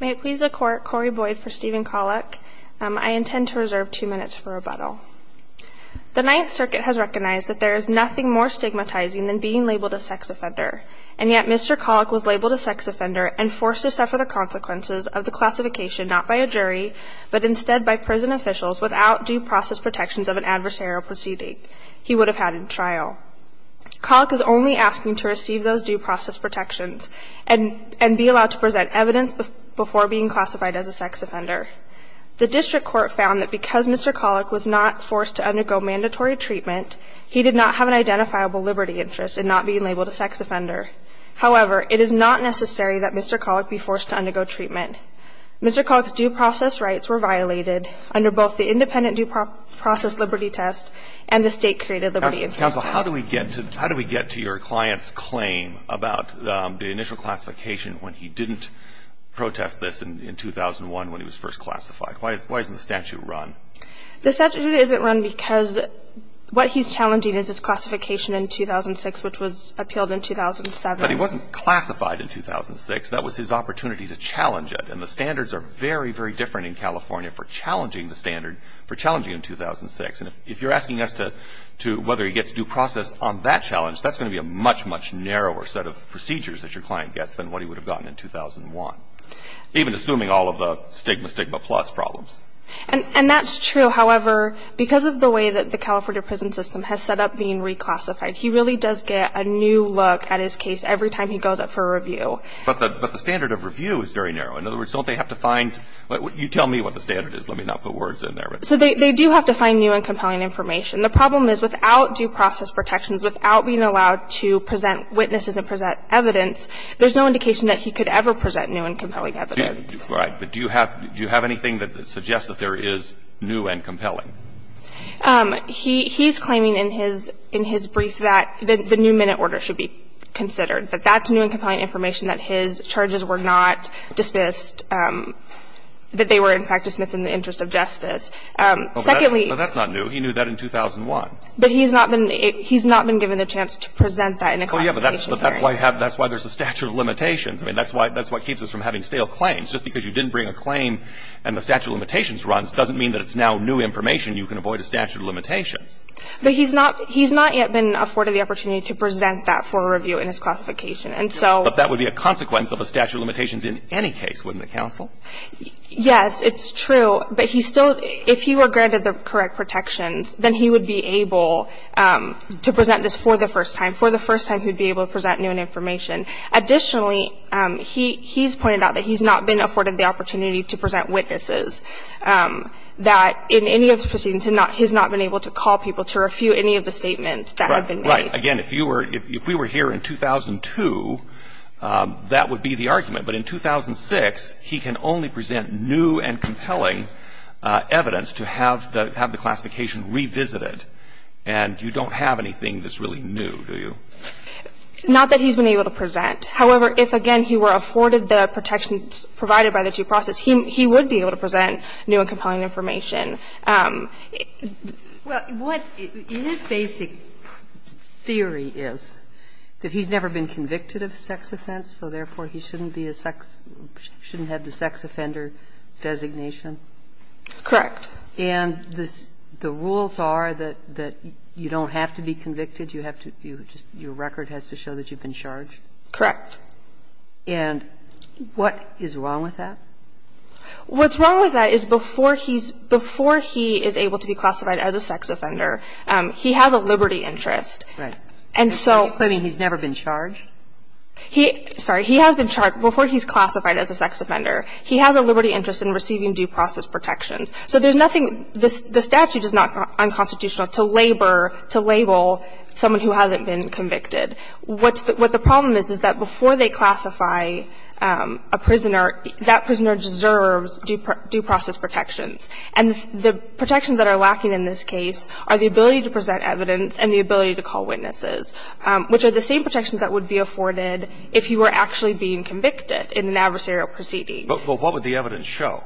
May it please the Court, Corey Boyd for Stephen Kaulick. I intend to reserve two minutes for rebuttal. The Ninth Circuit has recognized that there is nothing more stigmatizing than being labeled a sex offender, and yet Mr. Kaulick was labeled a sex offender and forced to suffer the consequences of the classification not by a jury, but instead by prison officials without due process protections of an adversarial proceeding he would have had in trial. Kaulick is only asking to receive those due process protections and be allowed to present evidence before being classified as a sex offender. The district court found that because Mr. Kaulick was not forced to undergo mandatory treatment, he did not have an identifiable liberty interest in not being labeled a sex offender. However, it is not necessary that Mr. Kaulick be forced to undergo treatment. Mr. Kaulick's due process rights were violated under both the independent due process liberty test and the State created liberty interest test. Breyer. Counsel, how do we get to your client's claim about the initial classification when he didn't protest this in 2001 when he was first classified? Why isn't the statute run? The statute isn't run because what he's challenging is his classification in 2006, which was appealed in 2007. But he wasn't classified in 2006. That was his opportunity to challenge it. And the standards are very, very different in California for challenging the standard, for challenging in 2006. And if you're asking us whether he gets due process on that challenge, that's going to be a much, much narrower set of procedures that your client gets than what he would have gotten in 2001, even assuming all of the stigma, stigma plus problems. And that's true, however, because of the way that the California prison system has set up being reclassified. He really does get a new look at his case every time he goes up for a review. But the standard of review is very narrow. In other words, don't they have to find you tell me what the standard is. Let me not put words in there. So they do have to find new and compelling information. The problem is without due process protections, without being allowed to present witnesses and present evidence, there's no indication that he could ever present new and compelling evidence. Right. But do you have anything that suggests that there is new and compelling? He's claiming in his brief that the new minute order should be considered, that that's new and compelling information, that his charges were not dismissed that they were in fact dismissed in the interest of justice. Secondly. But that's not new. He knew that in 2001. But he's not been given the chance to present that in a classification hearing. Oh, yeah, but that's why there's a statute of limitations. I mean, that's what keeps us from having stale claims. Just because you didn't bring a claim and the statute of limitations runs doesn't mean that it's now new information. You can avoid a statute of limitations. But he's not yet been afforded the opportunity to present that for a review in his classification. And so. But that would be a consequence of a statute of limitations in any case, wouldn't it, counsel? Yes, it's true. But he still, if he were granted the correct protections, then he would be able to present this for the first time, for the first time he'd be able to present new information. Additionally, he's pointed out that he's not been afforded the opportunity to present witnesses, that in any of his proceedings he's not been able to call people to review any of the statements that have been made. Right. Again, if you were, if we were here in 2002, that would be the argument. But in 2006, he can only present new and compelling evidence to have the, have the classification revisited, and you don't have anything that's really new, do you? Not that he's been able to present. However, if, again, he were afforded the protections provided by the due process, he would be able to present new and compelling information. Well, what his basic theory is, that he's never been convicted of sex offense, so therefore he shouldn't be a sex, shouldn't have the sex offender designation? Correct. And the rules are that you don't have to be convicted, you have to, your record has to show that you've been charged? Correct. And what is wrong with that? What's wrong with that is before he's, before he is able to be classified as a sex offender, he has a liberty interest. Right. And so. Are you claiming he's never been charged? He, sorry, he has been charged, before he's classified as a sex offender, he has a liberty interest in receiving due process protections. So there's nothing, the statute is not unconstitutional to labor, to label someone who hasn't been convicted. What's the, what the problem is, is that before they classify a prisoner, that prisoner deserves due process protections. And the protections that are lacking in this case are the ability to present evidence and the ability to call witnesses, which are the same protections that would be afforded if he were actually being convicted in an adversarial proceeding. But what would the evidence show?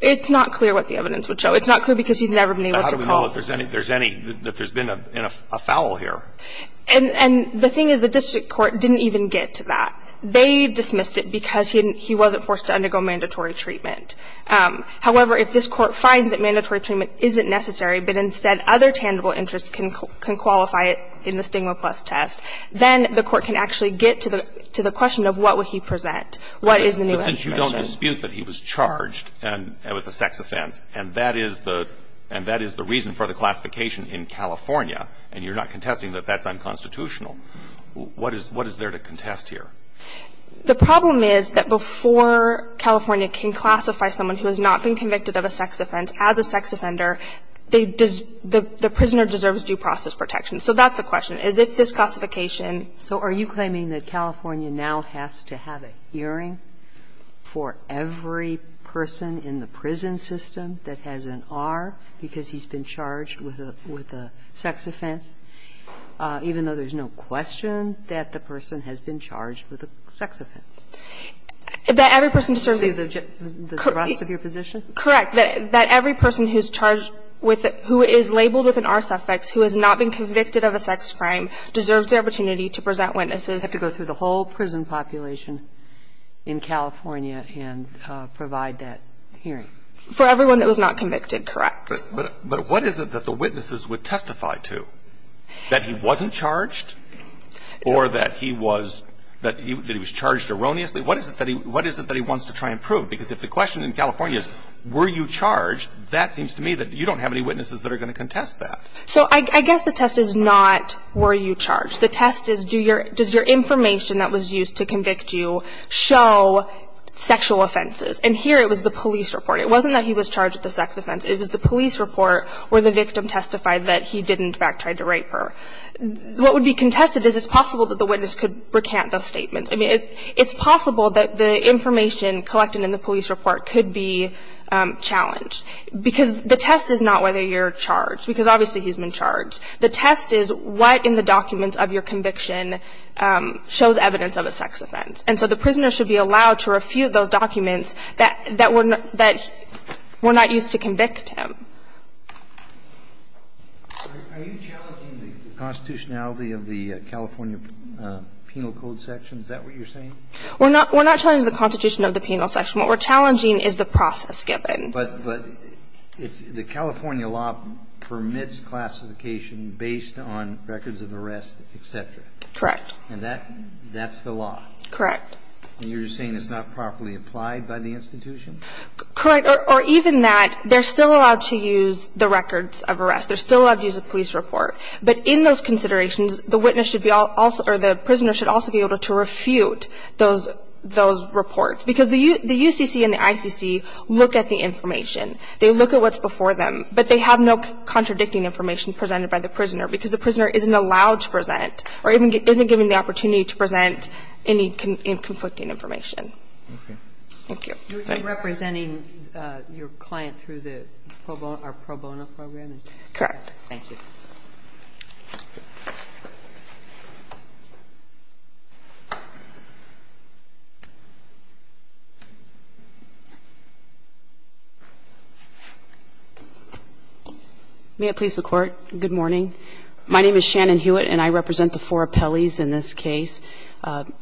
It's not clear what the evidence would show. It's not clear because he's never been able to call. How do we know that there's any, that there's been a foul here? And the thing is the district court didn't even get to that. They dismissed it because he wasn't forced to undergo mandatory treatment. However, if this Court finds that mandatory treatment isn't necessary, but instead other tangible interests can qualify it in the Stigma Plus test, then the Court can actually get to the question of what would he present. What is the new evidence? But since you don't dispute that he was charged with a sex offense, and that is the reason for the classification in California, and you're not contesting that that's unconstitutional, what is, what is there to contest here? The problem is that before California can classify someone who has not been convicted of a sex offense as a sex offender, they, the prisoner deserves due process protection. So that's the question, is if this classification. So are you claiming that California now has to have a hearing for every person in the prison system that has an R because he's been charged with a, with a sex offense, even though there's no question that the person has been charged with a sex offense? That every person deserves to be. The rest of your position? Correct. That every person who's charged with, who is labeled with an R suffix, who has not been convicted of a sex crime, deserves the opportunity to present witnesses. They have to go through the whole prison population in California and provide that hearing. For everyone that was not convicted, correct. But what is it that the witnesses would testify to? That he wasn't charged? Or that he was, that he was charged erroneously? What is it that he, what is it that he wants to try and prove? Because if the question in California is were you charged, that seems to me that you don't have any witnesses that are going to contest that. So I guess the test is not were you charged. The test is do your, does your information that was used to convict you show sexual offenses? And here it was the police report. It wasn't that he was charged with a sex offense. It was the police report where the victim testified that he did in fact try to rape her. What would be contested is it's possible that the witness could recant those statements. I mean, it's possible that the information collected in the police report could be challenged. Because the test is not whether you're charged, because obviously he's been charged. The test is what in the documents of your conviction shows evidence of a sex offense. And so the prisoner should be allowed to refute those documents that, that were not, that were not used to convict him. Are you challenging the constitutionality of the California Penal Code section? Is that what you're saying? We're not, we're not challenging the constitution of the penal section. What we're challenging is the process given. But, but it's, the California law permits classification based on records of arrest, et cetera. Correct. And that, that's the law. Correct. And you're saying it's not properly applied by the institution? Correct. Or, or even that, they're still allowed to use the records of arrest. They're still allowed to use a police report. But in those considerations, the witness should be also, or the prisoner should also be able to refute those, those reports. Because the U, the UCC and the ICC look at the information. They look at what's before them. But they have no contradicting information presented by the prisoner, because the prisoner isn't allowed to present or isn't given the opportunity to present any conflicting information. Okay. Thank you. You're representing your client through the pro bono, our pro bono program? Correct. Thank you. May I please the Court? Good morning. My name is Shannon Hewitt, and I represent the four appellees in this case,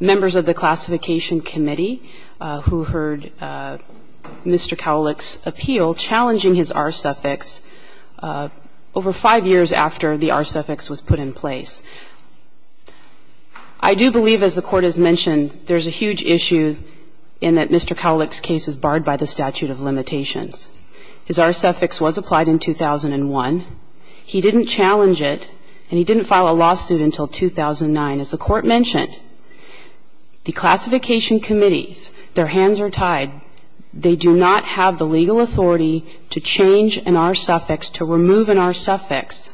members of the Classification Committee, who heard Mr. Cowlick's appeal challenging his R-suffix over five years after the R-suffix was put in place. I do believe, as the Court has mentioned, there's a huge issue in that Mr. Cowlick's case is barred by the statute of limitations. His R-suffix was applied in 2001. He didn't challenge it, and he didn't file a lawsuit until 2009. As the Court mentioned, the Classification Committees, their hands are tied. They do not have the legal authority to change an R-suffix, to remove an R-suffix,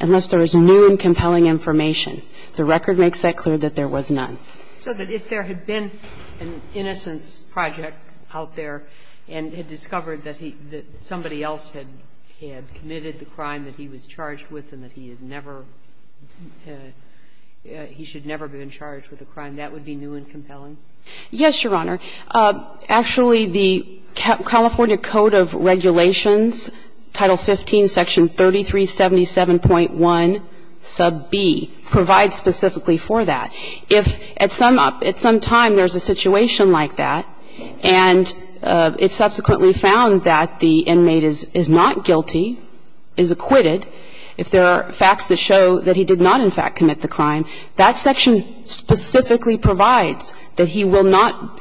unless there is new and compelling information. The record makes that clear that there was none. So that if there had been an innocence project out there and had discovered that somebody else had committed the crime that he was charged with and that he had never been charged with a crime, that would be new and compelling? Yes, Your Honor. Actually, the California Code of Regulations, Title 15, Section 3377.1 sub b, provides specifically for that. If at some time there's a situation like that and it's subsequently found that the inmate is not guilty, is acquitted, if there are facts that show that he did not in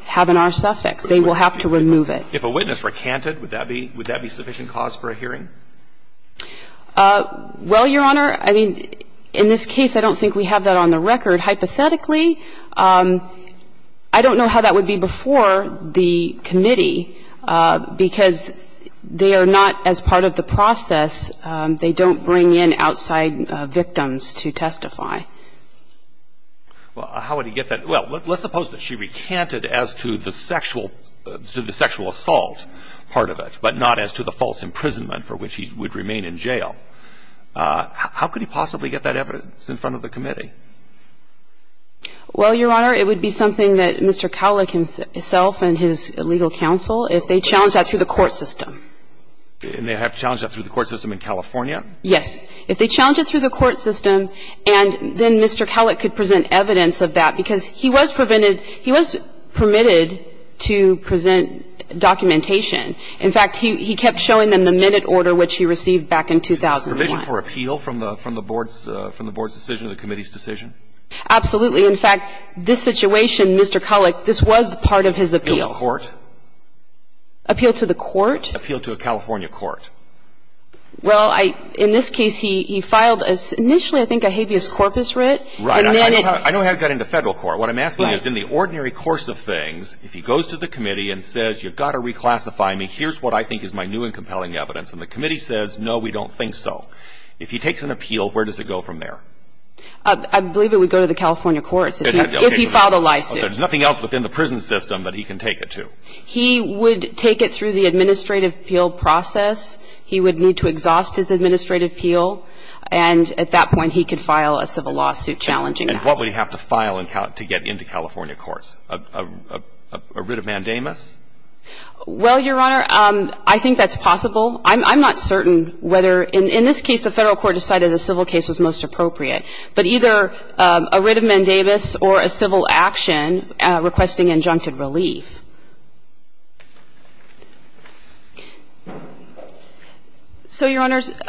have an R-suffix, they will have to remove it. If a witness recanted, would that be sufficient cause for a hearing? Well, Your Honor, I mean, in this case, I don't think we have that on the record. Hypothetically, I don't know how that would be before the committee, because they are not, as part of the process, they don't bring in outside victims to testify. Well, how would he get that? Well, let's suppose that she recanted as to the sexual assault part of it, but not as to the false imprisonment for which he would remain in jail. How could he possibly get that evidence in front of the committee? Well, Your Honor, it would be something that Mr. Cowlick himself and his legal counsel, if they challenged that through the court system. And they have challenged that through the court system in California? Yes. If they challenged it through the court system, and then Mr. Cowlick could present evidence of that, because he was permitted to present documentation. In fact, he kept showing them the minute order which he received back in 2001. Permission for appeal from the board's decision, the committee's decision? Absolutely. In fact, this situation, Mr. Cowlick, this was part of his appeal. Appeal to court? Appeal to the court? Appeal to a California court. Well, in this case, he filed initially, I think, a habeas corpus writ. Right. I don't know how he got into Federal court. What I'm asking is, in the ordinary course of things, if he goes to the committee and says, you've got to reclassify me, here's what I think is my new and compelling evidence, and the committee says, no, we don't think so, if he takes an appeal, where does it go from there? I believe it would go to the California courts if he filed a lawsuit. There's nothing else within the prison system that he can take it to. He would take it through the administrative appeal process. He would need to exhaust his administrative appeal, and at that point, he could file a civil lawsuit challenging that. And what would he have to file to get into California courts? A writ of mandamus? Well, Your Honor, I think that's possible. I'm not certain whether, in this case, the Federal court decided a civil case was most appropriate, but either a writ of mandamus or a civil action requesting injuncted relief. So, Your Honors,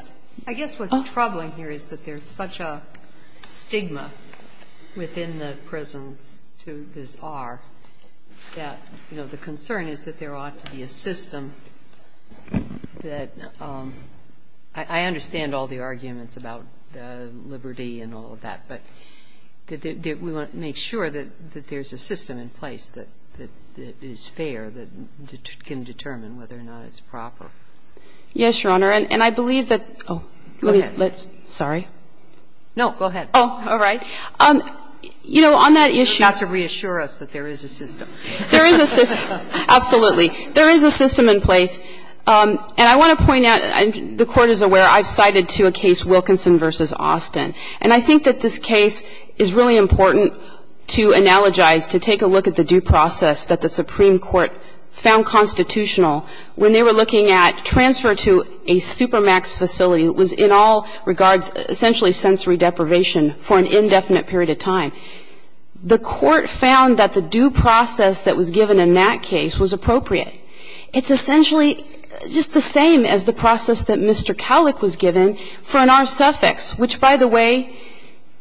I guess what's troubling here is that there's such a stigma within the prisons to this R that, you know, the concern is that there ought to be a system that – I understand all the arguments about liberty and all of that, but we want to make sure that there's a system in place that is fair, that can determine whether or not it's proper. Yes, Your Honor. And I believe that – oh. Go ahead. Sorry. No, go ahead. Oh, all right. You know, on that issue – Not to reassure us that there is a system. There is a system. Absolutely. There is a system in place. And I want to point out, the Court is aware, I've cited to a case Wilkinson v. Austin. And I think that this case is really important to analogize, to take a look at the due process that the Supreme Court found constitutional when they were looking at transfer to a supermax facility that was in all regards essentially sensory deprivation for an indefinite period of time. The Court found that the due process that was given in that case was appropriate. It's essentially just the same as the process that Mr. Cowlick was given for an R suffix, which, by the way,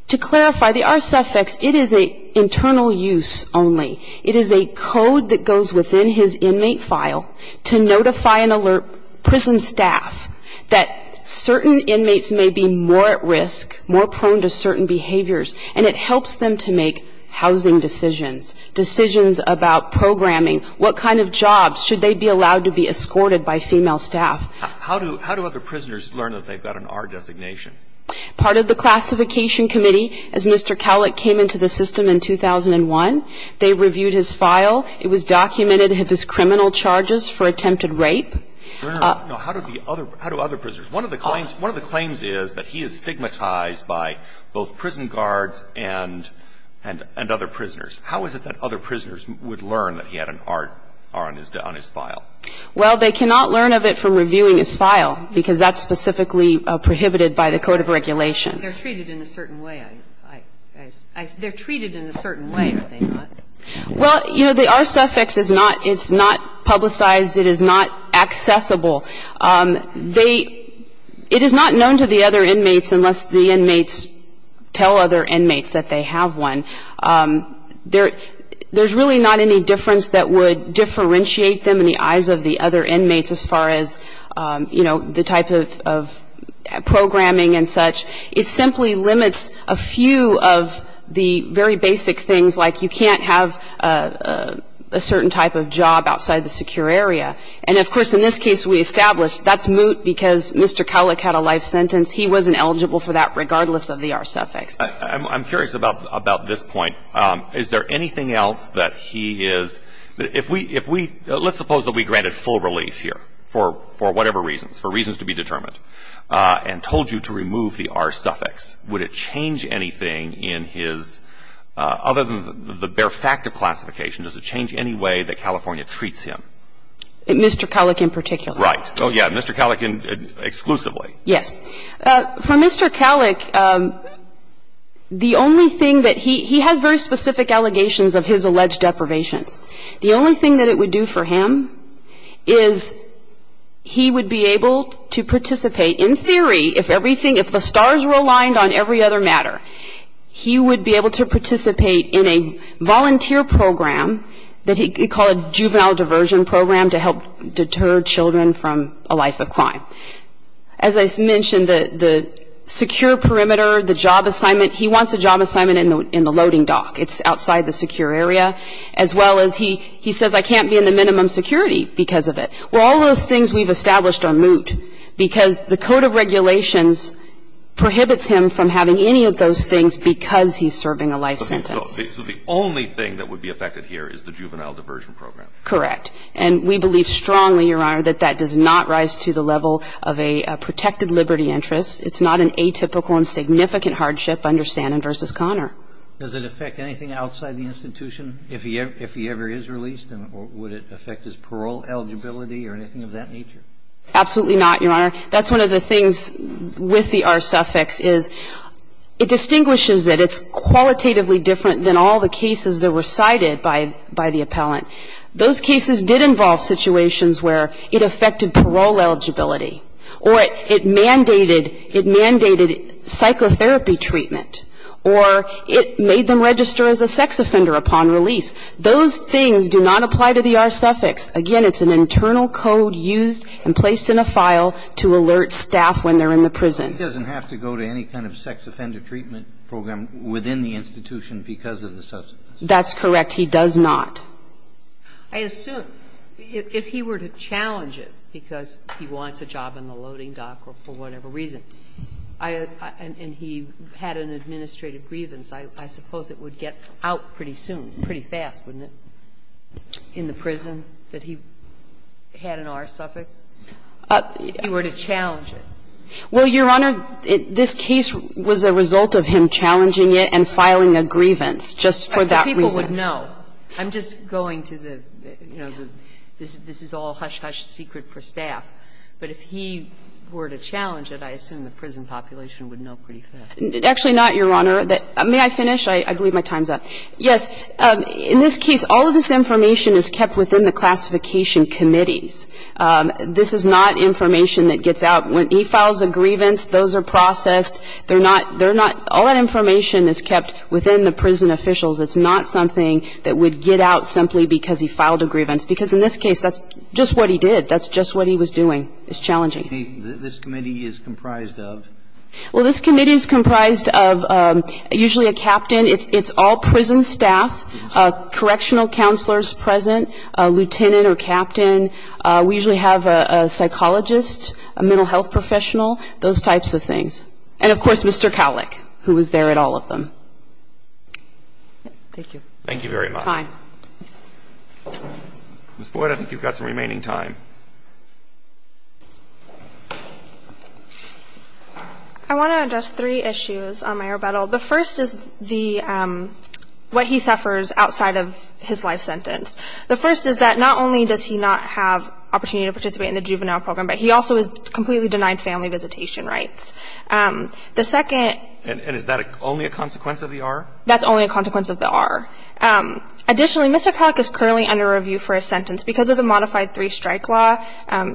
to clarify, the R suffix, it is an internal use only. It is a code that goes within his inmate file to notify and alert prison staff that certain inmates may be more at risk, more prone to certain behaviors, and it helps them to make housing decisions, decisions about programming, what kind of jobs should they be allowed to be escorted by female staff. How do other prisoners learn that they've got an R designation? Part of the classification committee, as Mr. Cowlick came into the system in 2001, they reviewed his file. It was documented of his criminal charges for attempted rape. No, no, no. How do other prisoners? One of the claims is that he is stigmatized by both prison guards and other prisoners. How is it that other prisoners would learn that he had an R on his file? Well, they cannot learn of it from reviewing his file because that's specifically prohibited by the Code of Regulations. They're treated in a certain way. They're treated in a certain way, are they not? Well, you know, the R suffix is not publicized. It is not accessible. They – it is not known to the other inmates unless the inmates tell other inmates that they have one. There's really not any difference that would differentiate them in the eyes of the other inmates as far as, you know, the type of programming and such. It simply limits a few of the very basic things, like you can't have a certain type of job outside the secure area. And, of course, in this case we established that's moot because Mr. Cowlick had a life sentence. He wasn't eligible for that regardless of the R suffix. I'm curious about this point. Is there anything else that he is – if we – let's suppose that we granted full relief here for whatever reasons, for reasons to be determined, and told you to remove the R suffix. Would it change anything in his – other than the bare fact of classification, does it change any way that California treats him? Mr. Cowlick in particular. Oh, yeah, Mr. Cowlick exclusively. Yes. For Mr. Cowlick, the only thing that he – he has very specific allegations of his alleged deprivations. The only thing that it would do for him is he would be able to participate in theory if everything – if the stars were aligned on every other matter, he would be able to participate in a volunteer program that he called Juvenile Diversion Program to help deter children from a life of crime. As I mentioned, the secure perimeter, the job assignment, he wants a job assignment in the loading dock. It's outside the secure area. As well as he says, I can't be in the minimum security because of it. Well, all those things we've established are moot because the Code of Regulations prohibits him from having any of those things because he's serving a life sentence. So the only thing that would be affected here is the Juvenile Diversion Program. Correct. And we believe strongly, Your Honor, that that does not rise to the level of a protected liberty interest. It's not an atypical and significant hardship under Stanton v. Conner. Does it affect anything outside the institution? If he ever is released, would it affect his parole eligibility or anything of that nature? Absolutely not, Your Honor. That's one of the things with the R suffix is it distinguishes it. It's qualitatively different than all the cases that were cited by the appellant. Those cases did involve situations where it affected parole eligibility or it mandated, it mandated psychotherapy treatment or it made them register as a sex offender upon release. Those things do not apply to the R suffix. Again, it's an internal code used and placed in a file to alert staff when they're in the prison. He doesn't have to go to any kind of sex offender treatment program within the institution because of the suffix. That's correct. He does not. I assume if he were to challenge it, because he wants a job in the loading dock or for whatever reason, and he had an administrative grievance, I suppose it would get out pretty soon, pretty fast, wouldn't it, in the prison that he had an R suffix? If he were to challenge it. Well, Your Honor, this case was a result of him challenging it and filing a grievance just for that reason. I'm just going to the, you know, this is all hush-hush secret for staff, but if he were to challenge it, I assume the prison population would know pretty fast. Actually not, Your Honor. May I finish? I believe my time's up. Yes. In this case, all of this information is kept within the classification committees. This is not information that gets out. When he files a grievance, those are processed. They're not, they're not, all that information is kept within the prison officials. It's not something that would get out simply because he filed a grievance, because in this case, that's just what he did. That's just what he was doing. It's challenging. This committee is comprised of? Well, this committee is comprised of usually a captain. It's all prison staff, correctional counselors present, a lieutenant or captain. We usually have a psychologist, a mental health professional, those types of things. And, of course, Mr. Cowlick, who was there at all of them. Thank you. Thank you very much. Time. Ms. Boyd, I think you've got some remaining time. I want to address three issues on my rebuttal. The first is the, what he suffers outside of his life sentence. The first is that not only does he not have opportunity to participate in the juvenile program, but he also is completely denied family visitation rights. The second. And is that only a consequence of the R? That's only a consequence of the R. Additionally, Mr. Cowlick is currently under review for a sentence. Because of the modified three-strike law,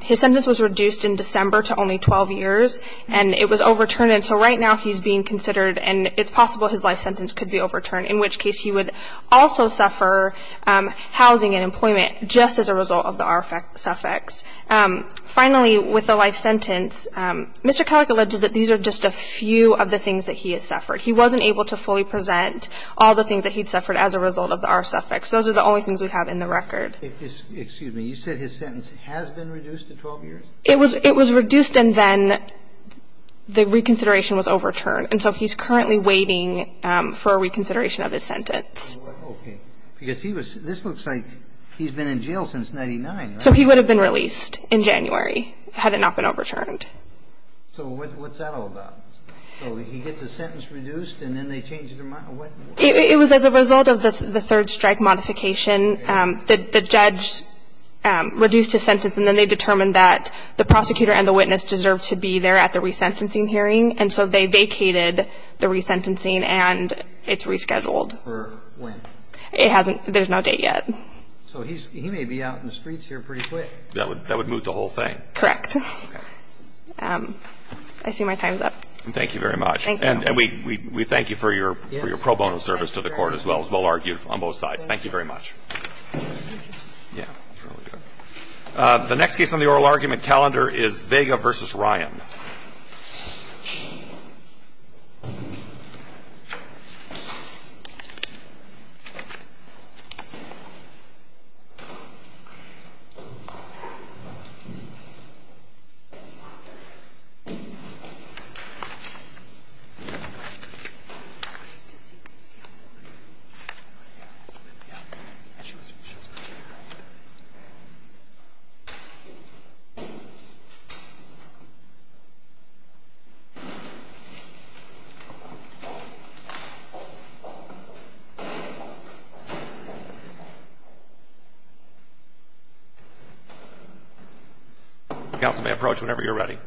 his sentence was reduced in December to only 12 years, and it was overturned. And so right now he's being considered, and it's possible his life sentence could be overturned, in which case he would also suffer housing and employment just as a result of the R suffix. Finally, with the life sentence, Mr. Cowlick alleges that these are just a few of the things that he has suffered. He wasn't able to fully present all the things that he'd suffered as a result of the R suffix. Those are the only things we have in the record. Excuse me. You said his sentence has been reduced to 12 years? It was reduced, and then the reconsideration was overturned. And so he's currently waiting for a reconsideration of his sentence. Okay. Because this looks like he's been in jail since 1999, right? So he would have been released in January had it not been overturned. So what's that all about? So he gets his sentence reduced, and then they change their mind? What? It was as a result of the third strike modification. The judge reduced his sentence, and then they determined that the prosecutor and the witness deserved to be there at the resentencing hearing. And so they vacated the resentencing, and it's rescheduled. For when? It hasn't been. There's no date yet. So he may be out in the streets here pretty quick. That would move the whole thing. Correct. Okay. I see my time's up. Thank you very much. Thank you. And we thank you for your pro bono service to the Court as well, as well argued on both sides. Thank you very much. Thank you. Yeah. That's really good. The next case on the oral argument calendar is Vega v. Ryan. Thank you. Counsel may approach whenever you're ready.